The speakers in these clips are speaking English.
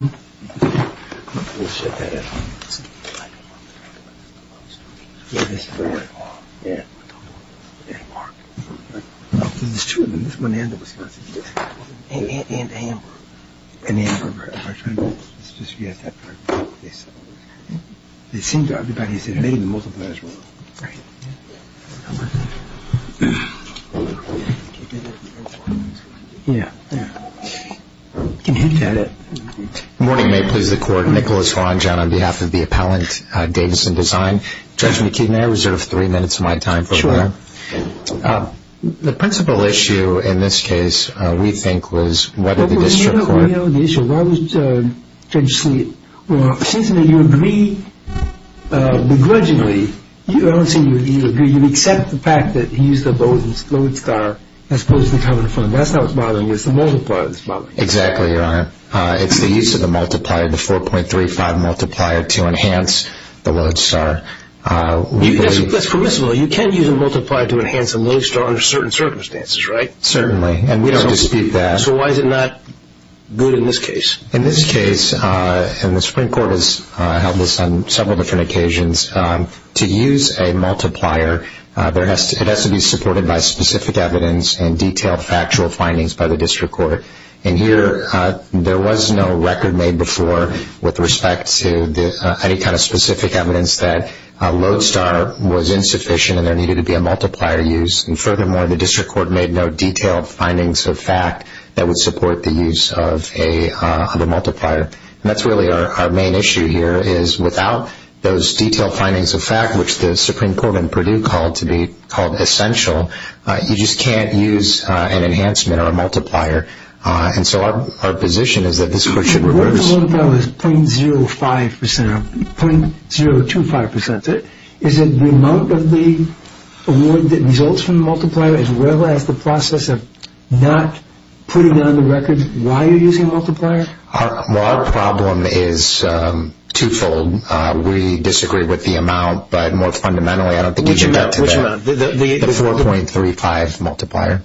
I'm going to pull this shit out of here. Yeah, this is where it all, yeah, there's a mark. There's two of them, this one and the Wisconsin. And Amber. And Amber, right. It's just you guys have to have a good place. It seems everybody's in here. Maybe the multipliers were. How about that? Keep it in the air for a minute. Yeah. Yeah. You can hint at it. Good morning. May it please the court. Nicholas Ronjan on behalf of the appellant, Davison Design. Judge McKee, may I reserve three minutes of my time for a moment? Sure. The principal issue in this case, we think, was whether the district court. Well, you don't know the issue. Why would Judge Sleet? Well, it seems to me you agree begrudgingly. I don't see you agree. You accept the fact that he's the gold star as opposed to the covered fund. That's not what's bothering me. It's the multiplier that's bothering me. Exactly, Your Honor. It's the use of the multiplier, the 4.35 multiplier, to enhance the load star. That's permissible. You can use a multiplier to enhance a load star under certain circumstances, right? Certainly. And we don't dispute that. So why is it not good in this case? In this case, and the Supreme Court has held this on several different occasions, to use a multiplier, it has to be supported by specific evidence and detailed factual findings by the district court. And here, there was no record made before with respect to any kind of specific evidence that a load star was insufficient and there needed to be a multiplier used. And furthermore, the district court made no detailed findings of fact that would support the use of a multiplier. And that's really our main issue here is without those detailed findings of fact, which the Supreme Court in Purdue called to be called essential, you just can't use an enhancement or a multiplier. And so our position is that this court should reverse. If the multiplier was 0.05%, 0.025%, is it the amount of the award that results from the multiplier as well as the process of not putting on the record why you're using a multiplier? Well, our problem is twofold. We disagree with the amount, but more fundamentally, I don't think you can get to that. Which amount? The 4.35 multiplier.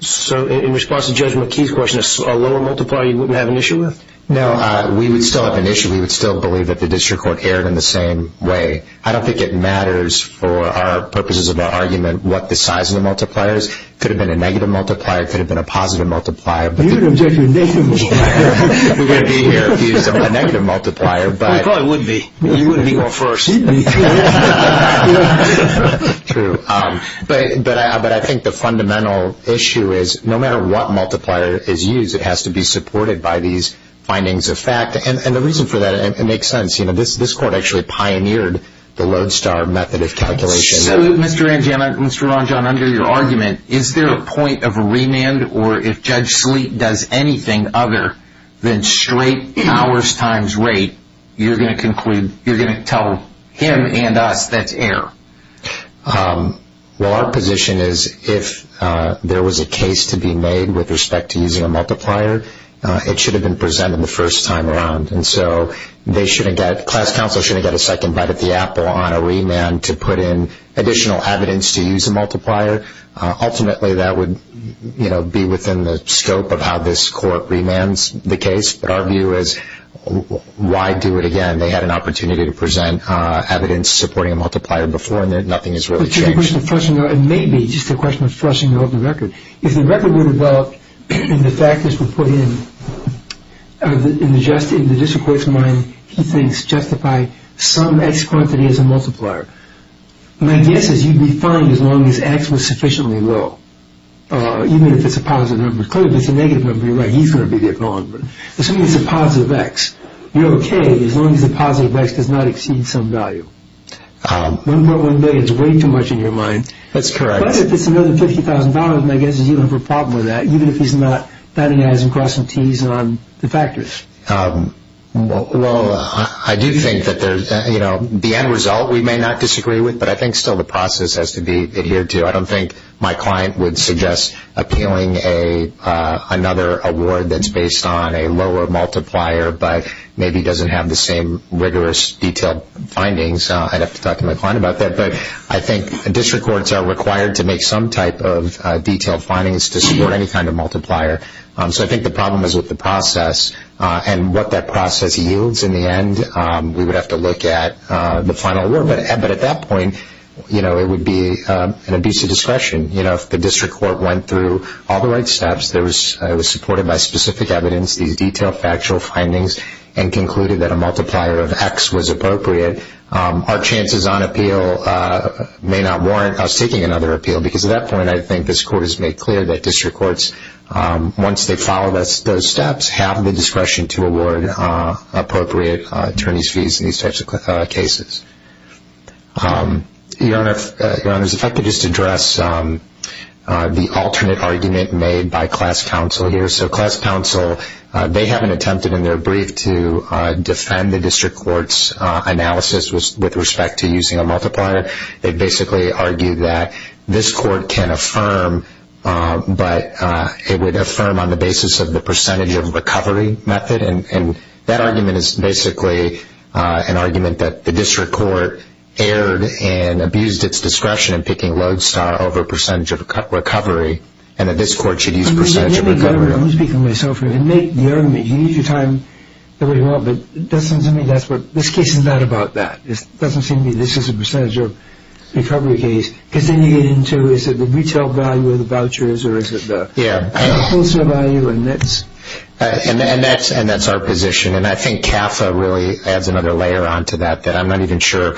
So in response to Judge McKee's question, a lower multiplier you wouldn't have an issue with? No, we would still have an issue. We would still believe that the district court erred in the same way. I don't think it matters for our purposes of our argument what the size of the multiplier is. It could have been a negative multiplier. It could have been a positive multiplier. You would object to a negative multiplier. We would be here if you used a negative multiplier. We probably would be. You would be going first. We'd be. But I think the fundamental issue is no matter what multiplier is used, it has to be supported by these findings of fact. And the reason for that, it makes sense. This court actually pioneered the Lodestar method of calculation. So, Mr. Ranjan, under your argument, is there a point of remand where you conclude or if Judge Sleet does anything other than straight hours times rate, you're going to tell him and us that's error? Well, our position is if there was a case to be made with respect to using a multiplier, it should have been presented the first time around. And so class counsel shouldn't get a second bite at the apple on a remand to put in additional evidence to use a multiplier. Ultimately, that would be within the scope of how this court remands the case. But our view is why do it again? They had an opportunity to present evidence supporting a multiplier before, and nothing has really changed. It may be just a question of flushing the open record. If the record were developed and the factors were put in, in the district court's mind, he thinks justify some X quantity as a multiplier. My guess is you'd be fine as long as X was sufficiently low. Even if it's a positive number. Clearly, if it's a negative number, you're right. He's going to be the acknowledgment. Assuming it's a positive X, you're okay as long as the positive X does not exceed some value. $1.1 billion is way too much in your mind. That's correct. But if it's another $50,000, my guess is you'd have a problem with that, even if he's not batting eyes and crossing Ts on the factors. Well, I do think that the end result we may not disagree with, but I think still the process has to be adhered to. I don't think my client would suggest appealing another award that's based on a lower multiplier but maybe doesn't have the same rigorous detailed findings. I'd have to talk to my client about that. But I think district courts are required to make some type of detailed findings to support any kind of multiplier. So I think the problem is with the process and what that process yields in the end. We would have to look at the final award. But at that point, it would be an abuse of discretion. If the district court went through all the right steps, it was supported by specific evidence, these detailed factual findings, and concluded that a multiplier of X was appropriate, our chances on appeal may not warrant us taking another appeal because at that point, I think this court has made clear that district courts, once they follow those steps, have the discretion to award appropriate attorney's fees in these types of cases. Your Honors, if I could just address the alternate argument made by class counsel here. So class counsel, they have attempted in their brief to defend the district court's analysis with respect to using a multiplier. They basically argued that this court can affirm, but it would affirm on the basis of the percentage of recovery method. And that argument is basically an argument that the district court erred and abused its discretion in picking Lodestar over percentage of recovery, and that this court should use percentage of recovery. Let me speak for myself here. You can make the argument. You can use your time the way you want, but this case is not about that. It doesn't seem to me this is a percentage of recovery case, because then you get into is it the retail value of the vouchers or is it the wholesale value? And that's our position. And I think CAFA really adds another layer onto that, that I'm not even sure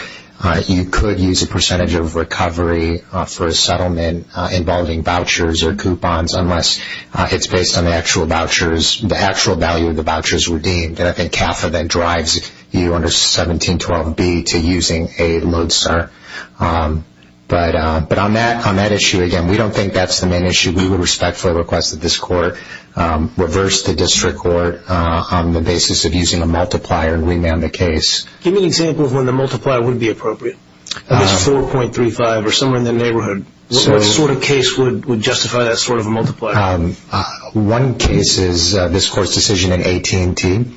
you could use a percentage of recovery for a settlement involving vouchers or coupons, unless it's based on the actual value of the vouchers redeemed. And I think CAFA then drives you under 1712B to using a Lodestar. But on that issue, again, we don't think that's the main issue. We would respectfully request that this court reverse the district court on the basis of using a multiplier and remand the case. Give me an example of when the multiplier would be appropriate. If it's 4.35 or somewhere in the neighborhood, what sort of case would justify that sort of multiplier? One case is this court's decision in AT&T.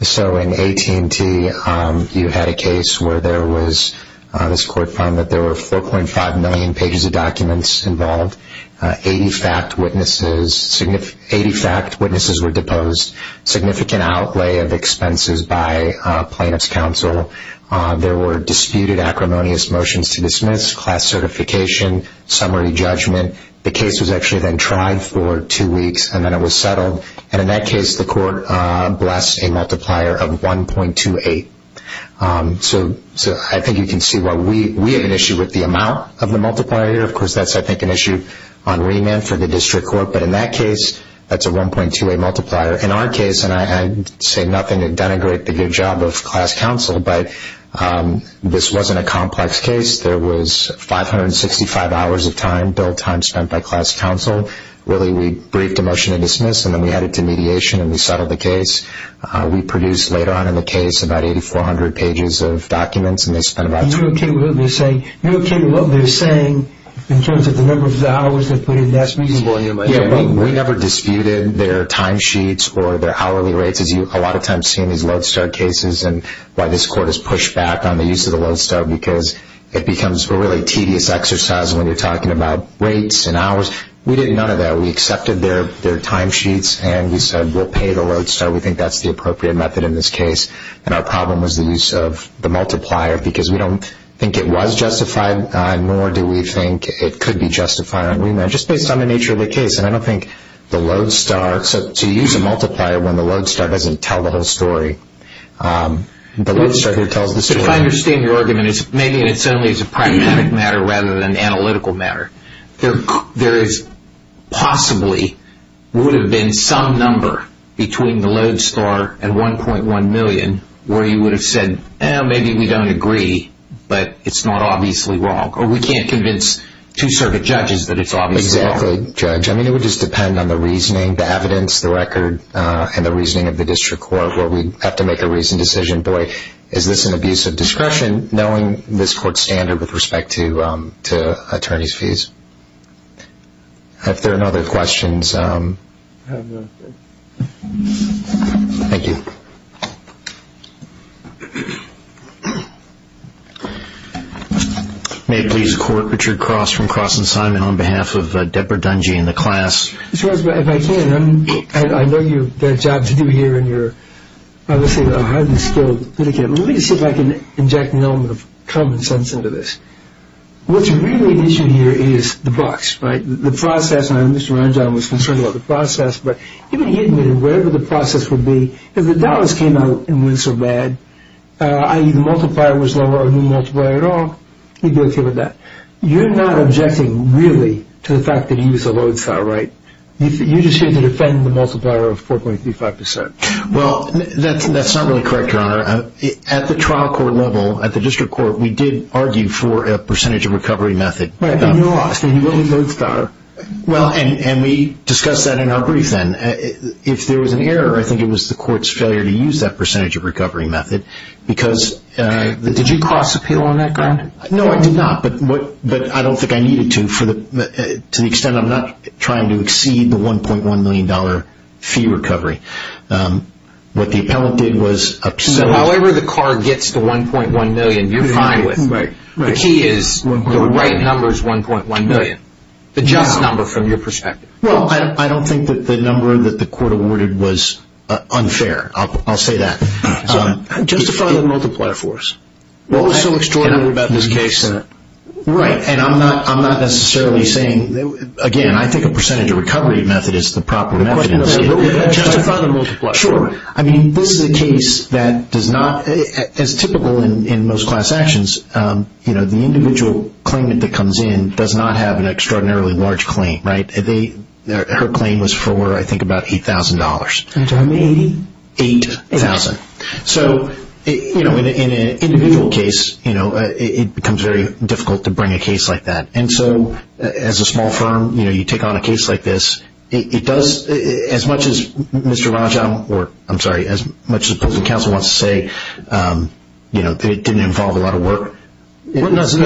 So in AT&T, you had a case where this court found that there were 4.5 million pages of documents involved, 80 fact witnesses were deposed, significant outlay of expenses by plaintiff's counsel. There were disputed acrimonious motions to dismiss, class certification, summary judgment. The case was actually then tried for two weeks, and then it was settled. And in that case, the court blessed a multiplier of 1.28. So I think you can see why we have an issue with the amount of the multiplier. Of course, that's, I think, an issue on remand for the district court. But in that case, that's a 1.28 multiplier. In our case, and I'd say nothing to denigrate the good job of class counsel, but this wasn't a complex case. There was 565 hours of time, billed time spent by class counsel. Really, we briefed a motion to dismiss, and then we added to mediation, and we settled the case. We produced, later on in the case, about 8,400 pages of documents, and they spent about two weeks. And you're okay with what they're saying in terms of the number of hours they put in. That's reasonable, you know, by the way. Yeah, we never disputed their timesheets or their hourly rates, as you a lot of times see in these Lodestar cases and why this court has pushed back on the use of the Lodestar because it becomes a really tedious exercise when you're talking about rates and hours. We did none of that. We accepted their timesheets, and we said we'll pay the Lodestar. We think that's the appropriate method in this case. And our problem was the use of the multiplier because we don't think it was justified, nor do we think it could be justified on remand, just based on the nature of the case. And I don't think the Lodestar, so you use a multiplier when the Lodestar doesn't tell the whole story. The Lodestar here tells the story. If I understand your argument, maybe it's only as a pragmatic matter rather than an analytical matter. There possibly would have been some number between the Lodestar and 1.1 million where you would have said, well, maybe we don't agree, but it's not obviously wrong. Or we can't convince two circuit judges that it's obviously wrong. Exactly, Judge. I mean, it would just depend on the reasoning, the evidence, the record, and the reasoning of the district court where we have to make a reasoned decision. Boy, is this an abuse of discretion knowing this court's standard with respect to attorney's fees. If there are no other questions, thank you. May it please the Court, Richard Cross from Cross & Simon on behalf of Deborah Dungey and the class. Judge, if I can, I know you've got a job to do here and you're obviously a highly skilled litigator. Let me see if I can inject an element of common sense into this. What's really at issue here is the box, right? The process, and I know Mr. Rangel was concerned about the process, but even he admitted wherever the process would be, if the dollars came out and went so bad, i.e. the multiplier was lower than the multiplier at all, he'd be okay with that. You're not objecting, really, to the fact that he was a lodestar, right? You're just here to defend the multiplier of 4.35%. Well, that's not really correct, Your Honor. At the trial court level, at the district court, we did argue for a percentage of recovery method. Right, but you lost and he really lodestar. Well, and we discussed that in our brief then. If there was an error, I think it was the court's failure to use that percentage of recovery method because... Did you cross appeal on that ground? No, I did not, but I don't think I needed to to the extent I'm not trying to exceed the $1.1 million fee recovery. What the appellant did was... So however the car gets the $1.1 million, you're fine with. Right, right. The key is the right number is $1.1 million, the just number from your perspective. Well, I don't think that the number that the court awarded was unfair. I'll say that. Justify the multiplier for us. What was so extraordinary about this case? Right, and I'm not necessarily saying... Again, I think a percentage of recovery method is the proper method. Justify the multiplier. Sure. I mean, this is a case that does not... As typical in most class actions, the individual claimant that comes in does not have an extraordinarily large claim, right? Her claim was for, I think, about $8,000. Can you tell me $80,000? $8,000. So in an individual case, it becomes very difficult to bring a case like that. And so as a small firm, you take on a case like this. It does, as much as Mr. Rajan, or I'm sorry, as much as the public counsel wants to say, it didn't involve a lot of work. $560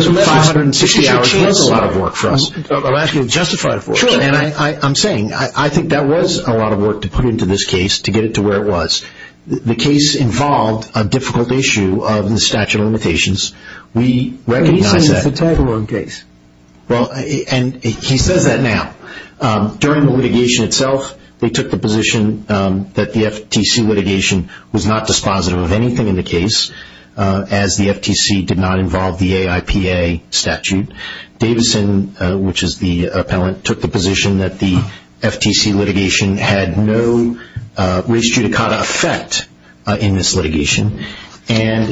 was a lot of work for us. I'm asking you to justify it for us. Sure. And I'm saying, I think that was a lot of work to put into this case to get it to where it was. The case involved a difficult issue of the statute of limitations. We recognize that. But he says it's a tag-along case. Well, and he says that now. During the litigation itself, they took the position that the FTC litigation was not dispositive of anything in the case, as the FTC did not involve the AIPA statute. Davison, which is the appellant, took the position that the FTC litigation had no res judicata effect in this litigation. And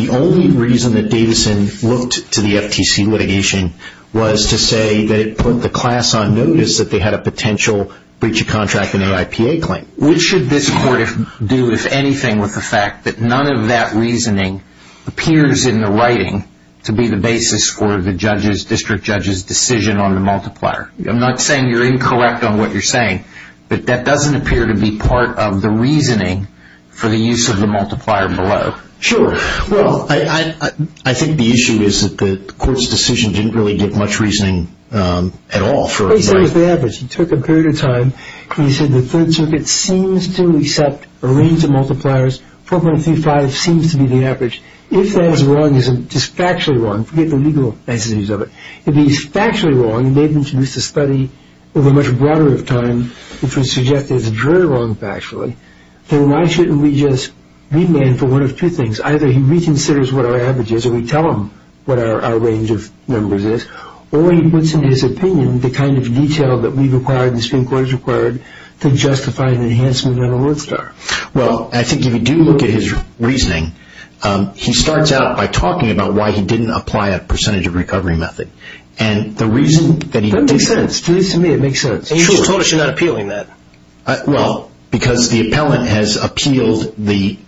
the only reason that Davison looked to the FTC litigation was to say that it put the class on notice that they had a potential breach of contract in the AIPA claim. Which should this court do, if anything, with the fact that none of that reasoning appears in the writing to be the basis for the district judge's decision on the multiplier? I'm not saying you're incorrect on what you're saying, but that doesn't appear to be part of the reasoning for the use of the multiplier below. Sure. Well, I think the issue is that the court's decision didn't really give much reasoning at all. He took a period of time, and he said the Third Circuit seems to accept a range of multipliers. 4.35 seems to be the average. If that is wrong, if it's factually wrong, forget the legal necessities of it, if it's factually wrong, and they've introduced a study over a much broader of time, which would suggest it's very wrong factually, then why shouldn't we just remand for one of two things? Either he reconsiders what our average is, or we tell him what our range of numbers is, or he puts into his opinion the kind of detail that we've required, the Supreme Court has required, to justify the enhancement of an award star. Well, I think if you do look at his reasoning, he starts out by talking about why he didn't apply a percentage of recovery method. That makes sense. To me, it makes sense. And you just told us you're not appealing that. Well, because the appellant has appealed the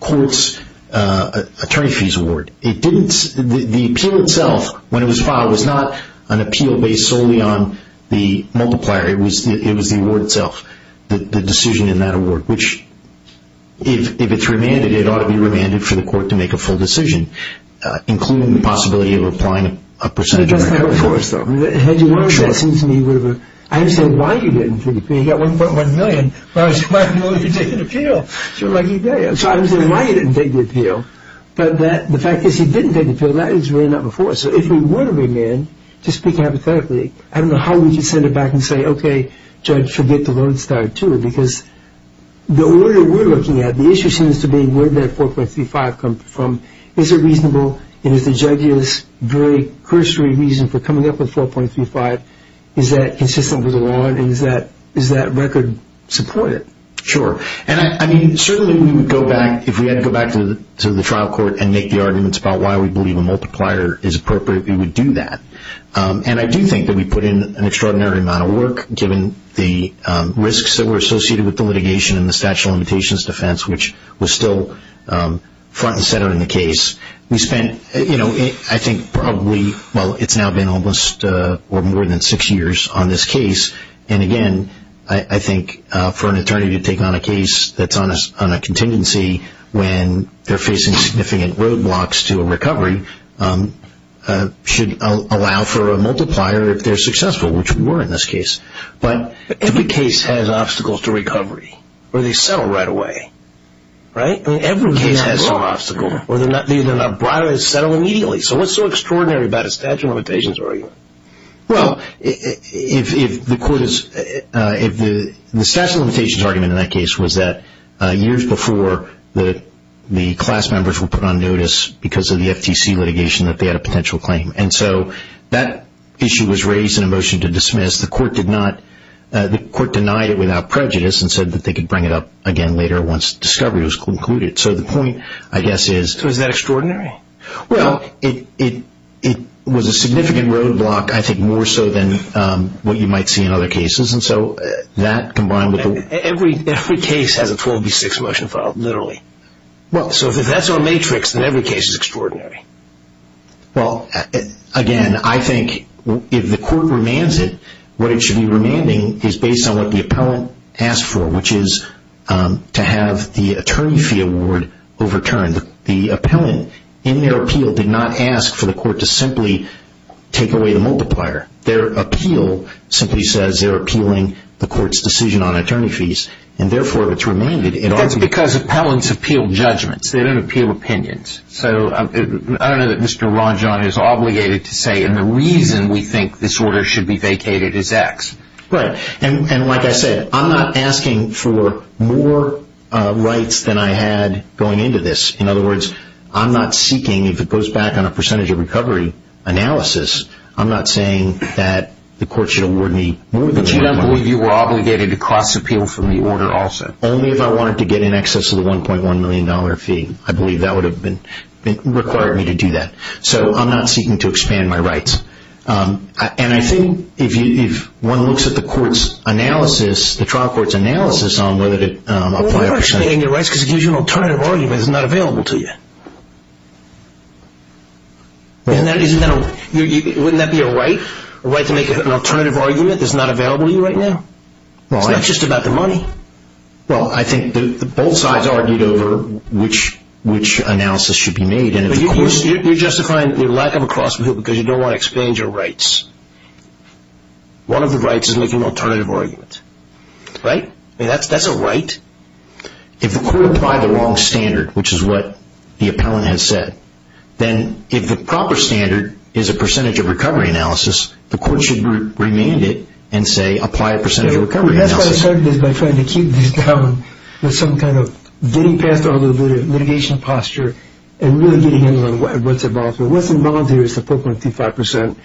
court's attorney fees award. The appeal itself, when it was filed, was not an appeal based solely on the multiplier. It was the award itself, the decision in that award, which, if it's remanded, it ought to be remanded for the court to make a full decision, including the possibility of applying a percentage of recovery. That doesn't help for us, though. Had you learned that, it seems to me you would have... I didn't say why you didn't take the appeal. You got 1.1 million, but I said, why didn't you take the appeal? So I didn't say why you didn't take the appeal. But the fact is you didn't take the appeal. That was really not before. So if we were to remand, just speaking hypothetically, I don't know how we could send it back and say, okay, judge, forget the Lone Star II, because the order we're looking at, the issue seems to be where did that 4.35 come from? Is it reasonable? And is the judge's very cursory reason for coming up with 4.35, is that consistent with the law and is that record supported? Sure. And, I mean, certainly we would go back, if we had to go back to the trial court and make the arguments about why we believe a multiplier is appropriate, we would do that. And I do think that we put in an extraordinary amount of work, given the risks that were associated with the litigation and the statute of limitations defense, which was still front and center in the case. We spent, you know, I think probably, well, it's now been almost or more than six years on this case. And, again, I think for an attorney to take on a case that's on a contingency when they're facing significant roadblocks to a recovery should allow for a multiplier if they're successful, which we were in this case. But every case has obstacles to recovery or they settle right away, right? I mean, every case has some obstacle or they're not brought or they settle immediately. So what's so extraordinary about a statute of limitations argument? Well, the statute of limitations argument in that case was that years before the class members were put on notice because of the FTC litigation that they had a potential claim. And so that issue was raised in a motion to dismiss. The court denied it without prejudice and said that they could bring it up again later once discovery was concluded. So the point, I guess, is... So is that extraordinary? Well, it was a significant roadblock, I think, more so than what you might see in other cases. And so that combined with the... Every case has a 12B6 motion filed, literally. So if that's our matrix, then every case is extraordinary. Well, again, I think if the court remands it, what it should be remanding is based on what the appellant asked for, which is to have the attorney fee award overturned. The appellant, in their appeal, did not ask for the court to simply take away the multiplier. Their appeal simply says they're appealing the court's decision on attorney fees, and therefore it's remanded. That's because appellants appeal judgments. They don't appeal opinions. So I don't know that Mr. Rajan is obligated to say, and the reason we think this order should be vacated is X. Right. And like I said, I'm not asking for more rights than I had going into this. In other words, I'm not seeking, if it goes back on a percentage of recovery analysis, I'm not saying that the court should award me more than... But you don't believe you were obligated to cross-appeal from the order also? Only if I wanted to get in excess of the $1.1 million fee. I believe that would have required me to do that. So I'm not seeking to expand my rights. And I think if one looks at the trial court's analysis on whether to apply a percentage... Well, you're actually getting your rights because it gives you an alternative argument that's not available to you. Wouldn't that be a right, a right to make an alternative argument that's not available to you right now? It's not just about the money. Well, I think both sides argued over which analysis should be made. You're justifying your lack of a cross-appeal because you don't want to expand your rights. One of the rights is making an alternative argument. Right? I mean, that's a right. If the court applied the wrong standard, which is what the appellant has said, then if the proper standard is a percentage of recovery analysis, the court should remand it and say apply a percentage of recovery analysis. That's why I started this by trying to keep this down with some kind of getting past all the litigation posture and really getting into what's involved here. What's involved here is the 4.35%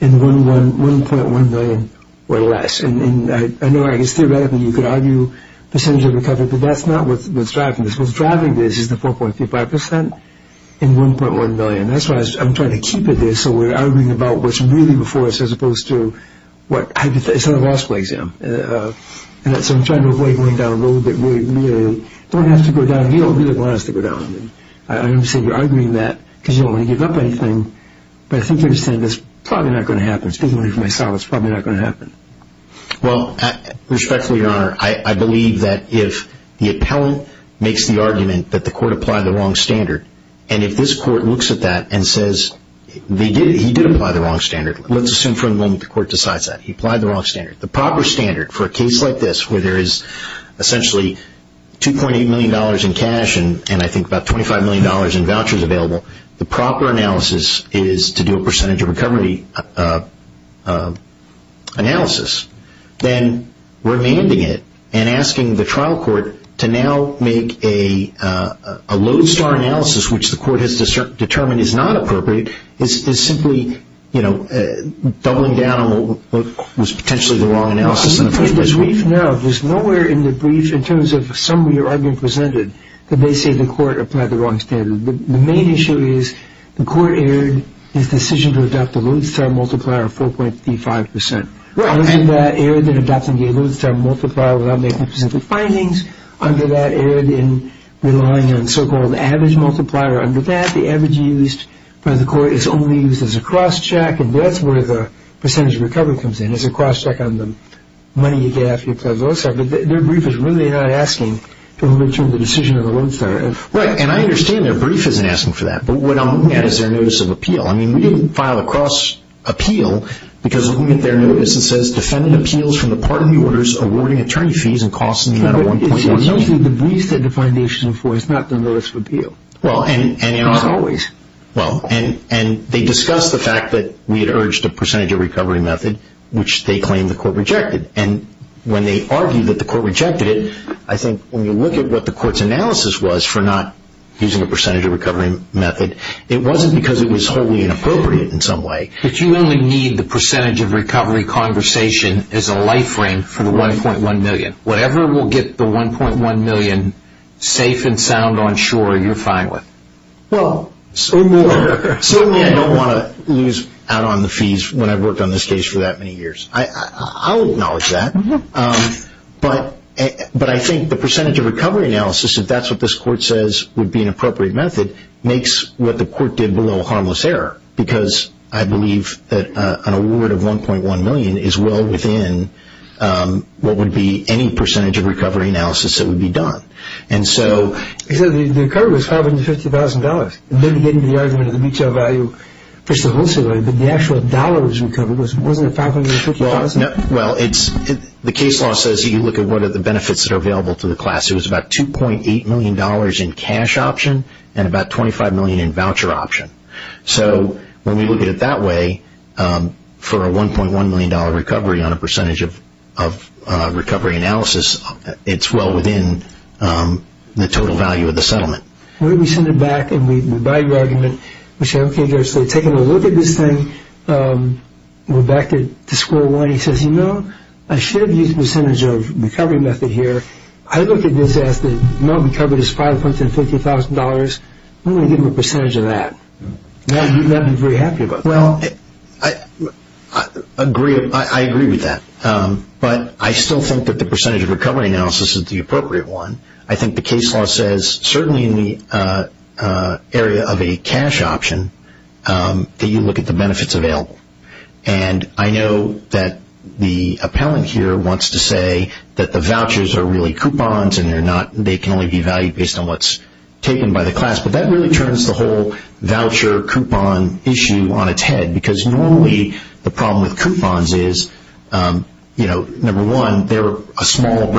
and 1.1 million or less. And I know I guess theoretically you could argue percentage of recovery, but that's not what's driving this. What's driving this is the 4.35% and 1.1 million. That's why I'm trying to keep it there so we're arguing about what's really before us as opposed to what... It's not a law school exam. And so I'm trying to avoid going down a road that we really don't have to go down. I understand you're arguing that because you don't want to give up anything, but I think you understand that's probably not going to happen. Speaking for myself, it's probably not going to happen. Well, respectfully, Your Honor, I believe that if the appellant makes the argument that the court applied the wrong standard, and if this court looks at that and says he did apply the wrong standard, let's assume for a moment the court decides that he applied the wrong standard. The proper standard for a case like this where there is essentially $2.8 million in cash and I think about $25 million in vouchers available, the proper analysis is to do a percentage of recovery analysis. Then remanding it and asking the trial court to now make a lodestar analysis, which the court has determined is not appropriate, is simply doubling down on what was potentially the wrong analysis. No, there's nowhere in the brief in terms of summary or argument presented that they say the court applied the wrong standard. The main issue is the court erred in its decision to adopt the lodestar multiplier of 4.55 percent. Under that, it erred in adopting the lodestar multiplier without making presented findings. Under that, it erred in relying on so-called average multiplier. Under that, the average used by the court is only used as a cross-check, and that's where the percentage of recovery comes in. It's a cross-check on the money you get after you apply the lodestar, but their brief is really not asking to return the decision of the lodestar. Right, and I understand their brief isn't asking for that, but what I'm looking at is their notice of appeal. I mean, we didn't file a cross-appeal because we look at their notice and it says, defendant appeals from the part of the orders awarding attorney fees and costs in the amount of $1.8 million. It's usually the briefs that the foundation affords, not the notice of appeal, as always. Well, and they discuss the fact that we had urged a percentage of recovery method, which they claim the court rejected. And when they argue that the court rejected it, I think when you look at what the court's analysis was for not using a percentage of recovery method, it wasn't because it was wholly inappropriate in some way. But you only need the percentage of recovery conversation as a light frame for the $1.1 million. Whatever will get the $1.1 million safe and sound on shore, you're fine with? Well, certainly I don't want to lose out on the fees when I've worked on this case for that many years. I'll acknowledge that. But I think the percentage of recovery analysis, if that's what this court says would be an appropriate method, makes what the court did below harmless error, because I believe that an award of $1.1 million is well within what would be any percentage of recovery analysis that would be done. The recovery was $550,000. Maybe getting to the argument of the mutual value, but the actual dollar that was recovered wasn't $550,000. Well, the case law says you look at what are the benefits that are available to the class. It was about $2.8 million in cash option and about $25 million in voucher option. So when we look at it that way, for a $1.1 million recovery on a percentage of recovery analysis, it's well within the total value of the settlement. We send it back and we buy your argument. We say, okay, taking a look at this thing, we're back to square one. He says, you know, I should have used a percentage of recovery method here. I look at this as the amount recovered is $550,000. I'm going to give him a percentage of that. Now you'd not be very happy about that. Well, I agree with that. But I still think that the percentage of recovery analysis is the appropriate one. I think the case law says certainly in the area of a cash option that you look at the benefits available. And I know that the appellant here wants to say that the vouchers are really coupons and they can only be valued based on what's taken by the class. But that really turns the whole voucher coupon issue on its head because normally the problem with coupons is, you know, number one, they're a small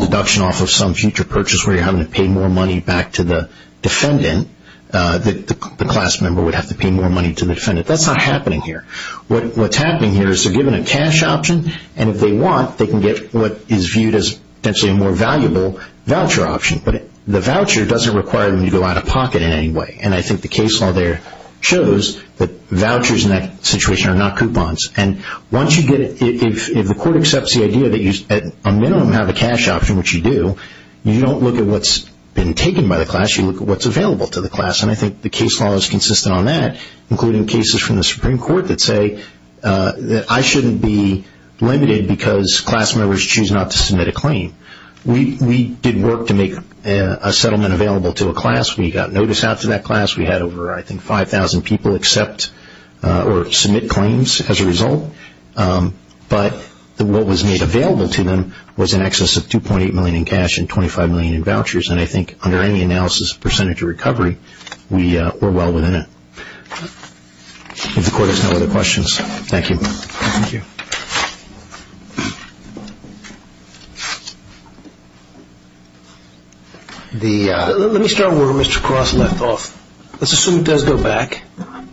deduction off of some future purchase where you're having to pay more money back to the defendant. The class member would have to pay more money to the defendant. That's not happening here. What's happening here is they're given a cash option, and if they want they can get what is viewed as potentially a more valuable voucher option. But the voucher doesn't require them to go out of pocket in any way. And I think the case law there shows that vouchers in that situation are not coupons. And once you get it, if the court accepts the idea that you at a minimum have a cash option, which you do, you don't look at what's been taken by the class, you look at what's available to the class. And I think the case law is consistent on that, including cases from the Supreme Court that say that I shouldn't be limited because class members choose not to submit a claim. We did work to make a settlement available to a class. We got notice out to that class. We had over, I think, 5,000 people accept or submit claims as a result. But what was made available to them was in excess of $2.8 million in cash and $25 million in vouchers. And I think under any analysis of percentage of recovery, we're well within it. If the court has no other questions, thank you. Thank you. Let me start where Mr. Cross left off. Let's assume it does go back.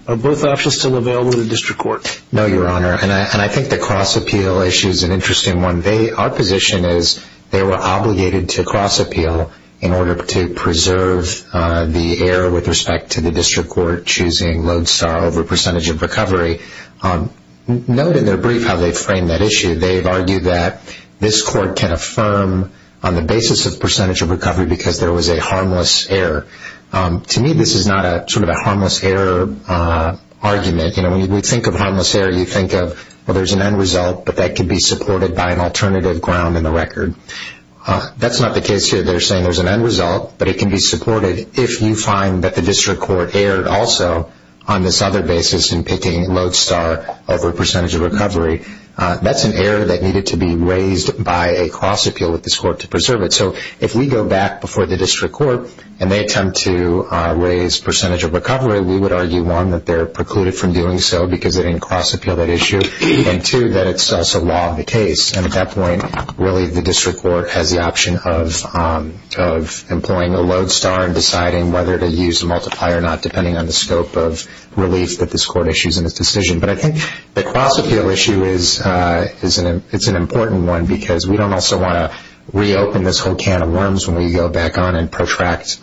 Are both options still available to the district court? No, Your Honor. And I think the cross-appeal issue is an interesting one. Our position is they were obligated to cross-appeal in order to preserve the error with respect to the district court choosing Lodestar over percentage of recovery. Note in their brief how they framed that issue. They've argued that this court can affirm on the basis of percentage of recovery because there was a harmless error. To me, this is not sort of a harmless error argument. You know, when you think of harmless error, you think of, well, there's an end result, but that could be supported by an alternative ground in the record. That's not the case here. They're saying there's an end result, but it can be supported if you find that the district court erred also on this other basis in picking Lodestar over percentage of recovery. That's an error that needed to be raised by a cross-appeal with this court to preserve it. So if we go back before the district court and they attempt to raise percentage of recovery, we would argue, one, that they're precluded from doing so because they didn't cross-appeal that issue, and, two, that it's also law of the case. And at that point, really the district court has the option of employing a Lodestar and deciding whether to use a multiplier or not depending on the scope of relief that this court issues in its decision. But I think the cross-appeal issue is an important one because we don't also want to reopen this whole can of worms when we go back on and protract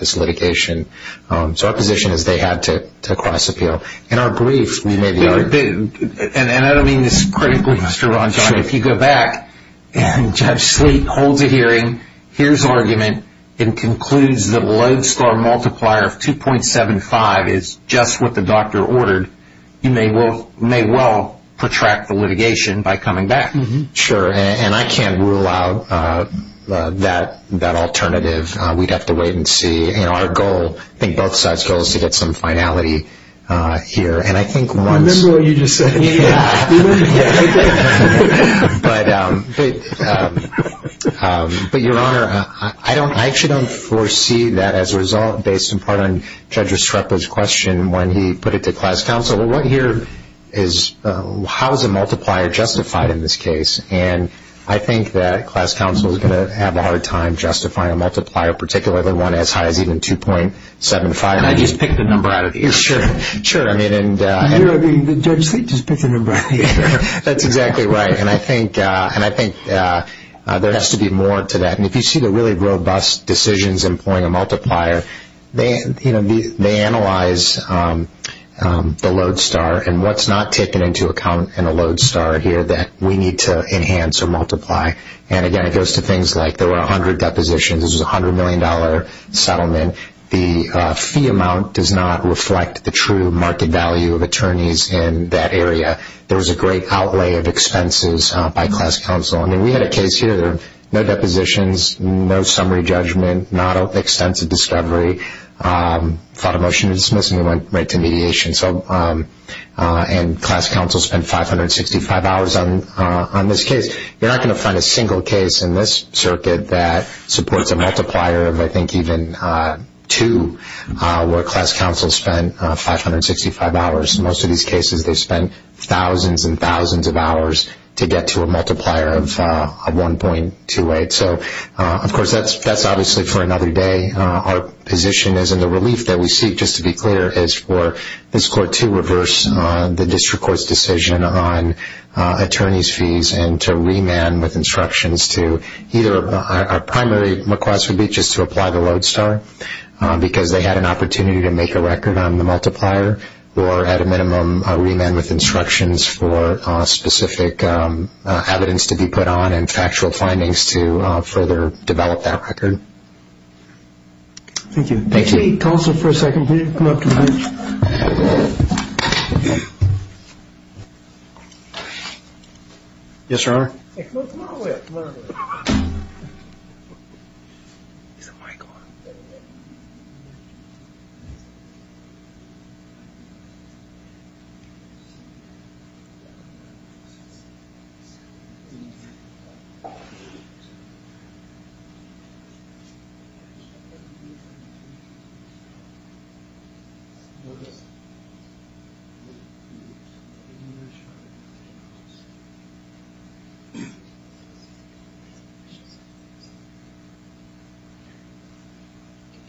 this litigation. So our position is they had to cross-appeal. In our brief, we made the argument. And I don't mean this critically, Mr. Rondon. If you go back and Judge Sleet holds a hearing, hears argument, and concludes that Lodestar multiplier of 2.75 is just what the doctor ordered, you may well protract the litigation by coming back. Sure. And I can't rule out that alternative. We'd have to wait and see. And our goal, I think both sides' goal, is to get some finality here. I remember what you just said. Yeah. But, Your Honor, I actually don't foresee that as a result based in part on Judge Estrepo's question when he put it to class counsel. Well, what here is how is a multiplier justified in this case? And I think that class counsel is going to have a hard time justifying a multiplier, particularly one as high as even 2.75. And I just picked a number out of the air. Sure. And Judge Sleet just picked a number out of the air. That's exactly right. And I think there has to be more to that. And if you see the really robust decisions employing a multiplier, they analyze the Lodestar and what's not taken into account in a Lodestar here that we need to enhance or multiply. And, again, it goes to things like there were 100 depositions. This was a $100 million settlement. The fee amount does not reflect the true market value of attorneys in that area. There was a great outlay of expenses by class counsel. I mean, we had a case here. There were no depositions, no summary judgment, not extensive discovery, filed a motion to dismiss, and we went right to mediation. And class counsel spent 565 hours on this case. You're not going to find a single case in this circuit that supports a multiplier of, I think, even 2, where class counsel spent 565 hours. In most of these cases, they spent thousands and thousands of hours to get to a multiplier of 1.28. So, of course, that's obviously for another day. Our position is, and the relief that we seek, just to be clear, is for this court to reverse the district court's decision on attorneys' fees and to remand with instructions to either our primary request would be just to apply the Lodestar because they had an opportunity to make a record on the multiplier or, at a minimum, remand with instructions for specific evidence to be put on and factual findings to further develop that record. Thank you. Thank you. Counsel, for a second, please come up to the bench. Yes, Your Honor. Hey, come on over here. Is the mic on?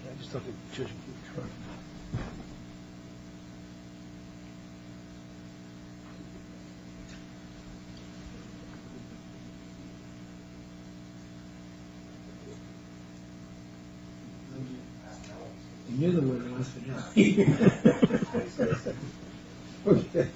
Can I just talk to the judge in front of me? You knew the word, I almost forgot. Thank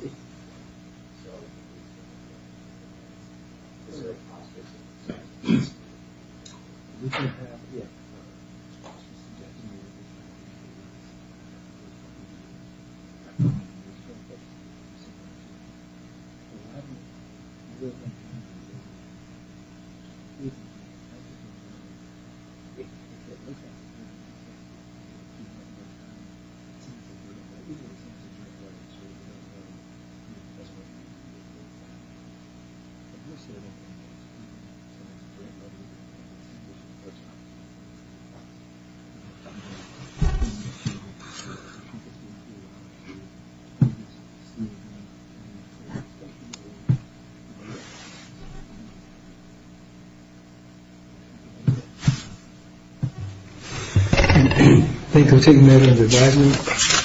you. Thank you. Thank you.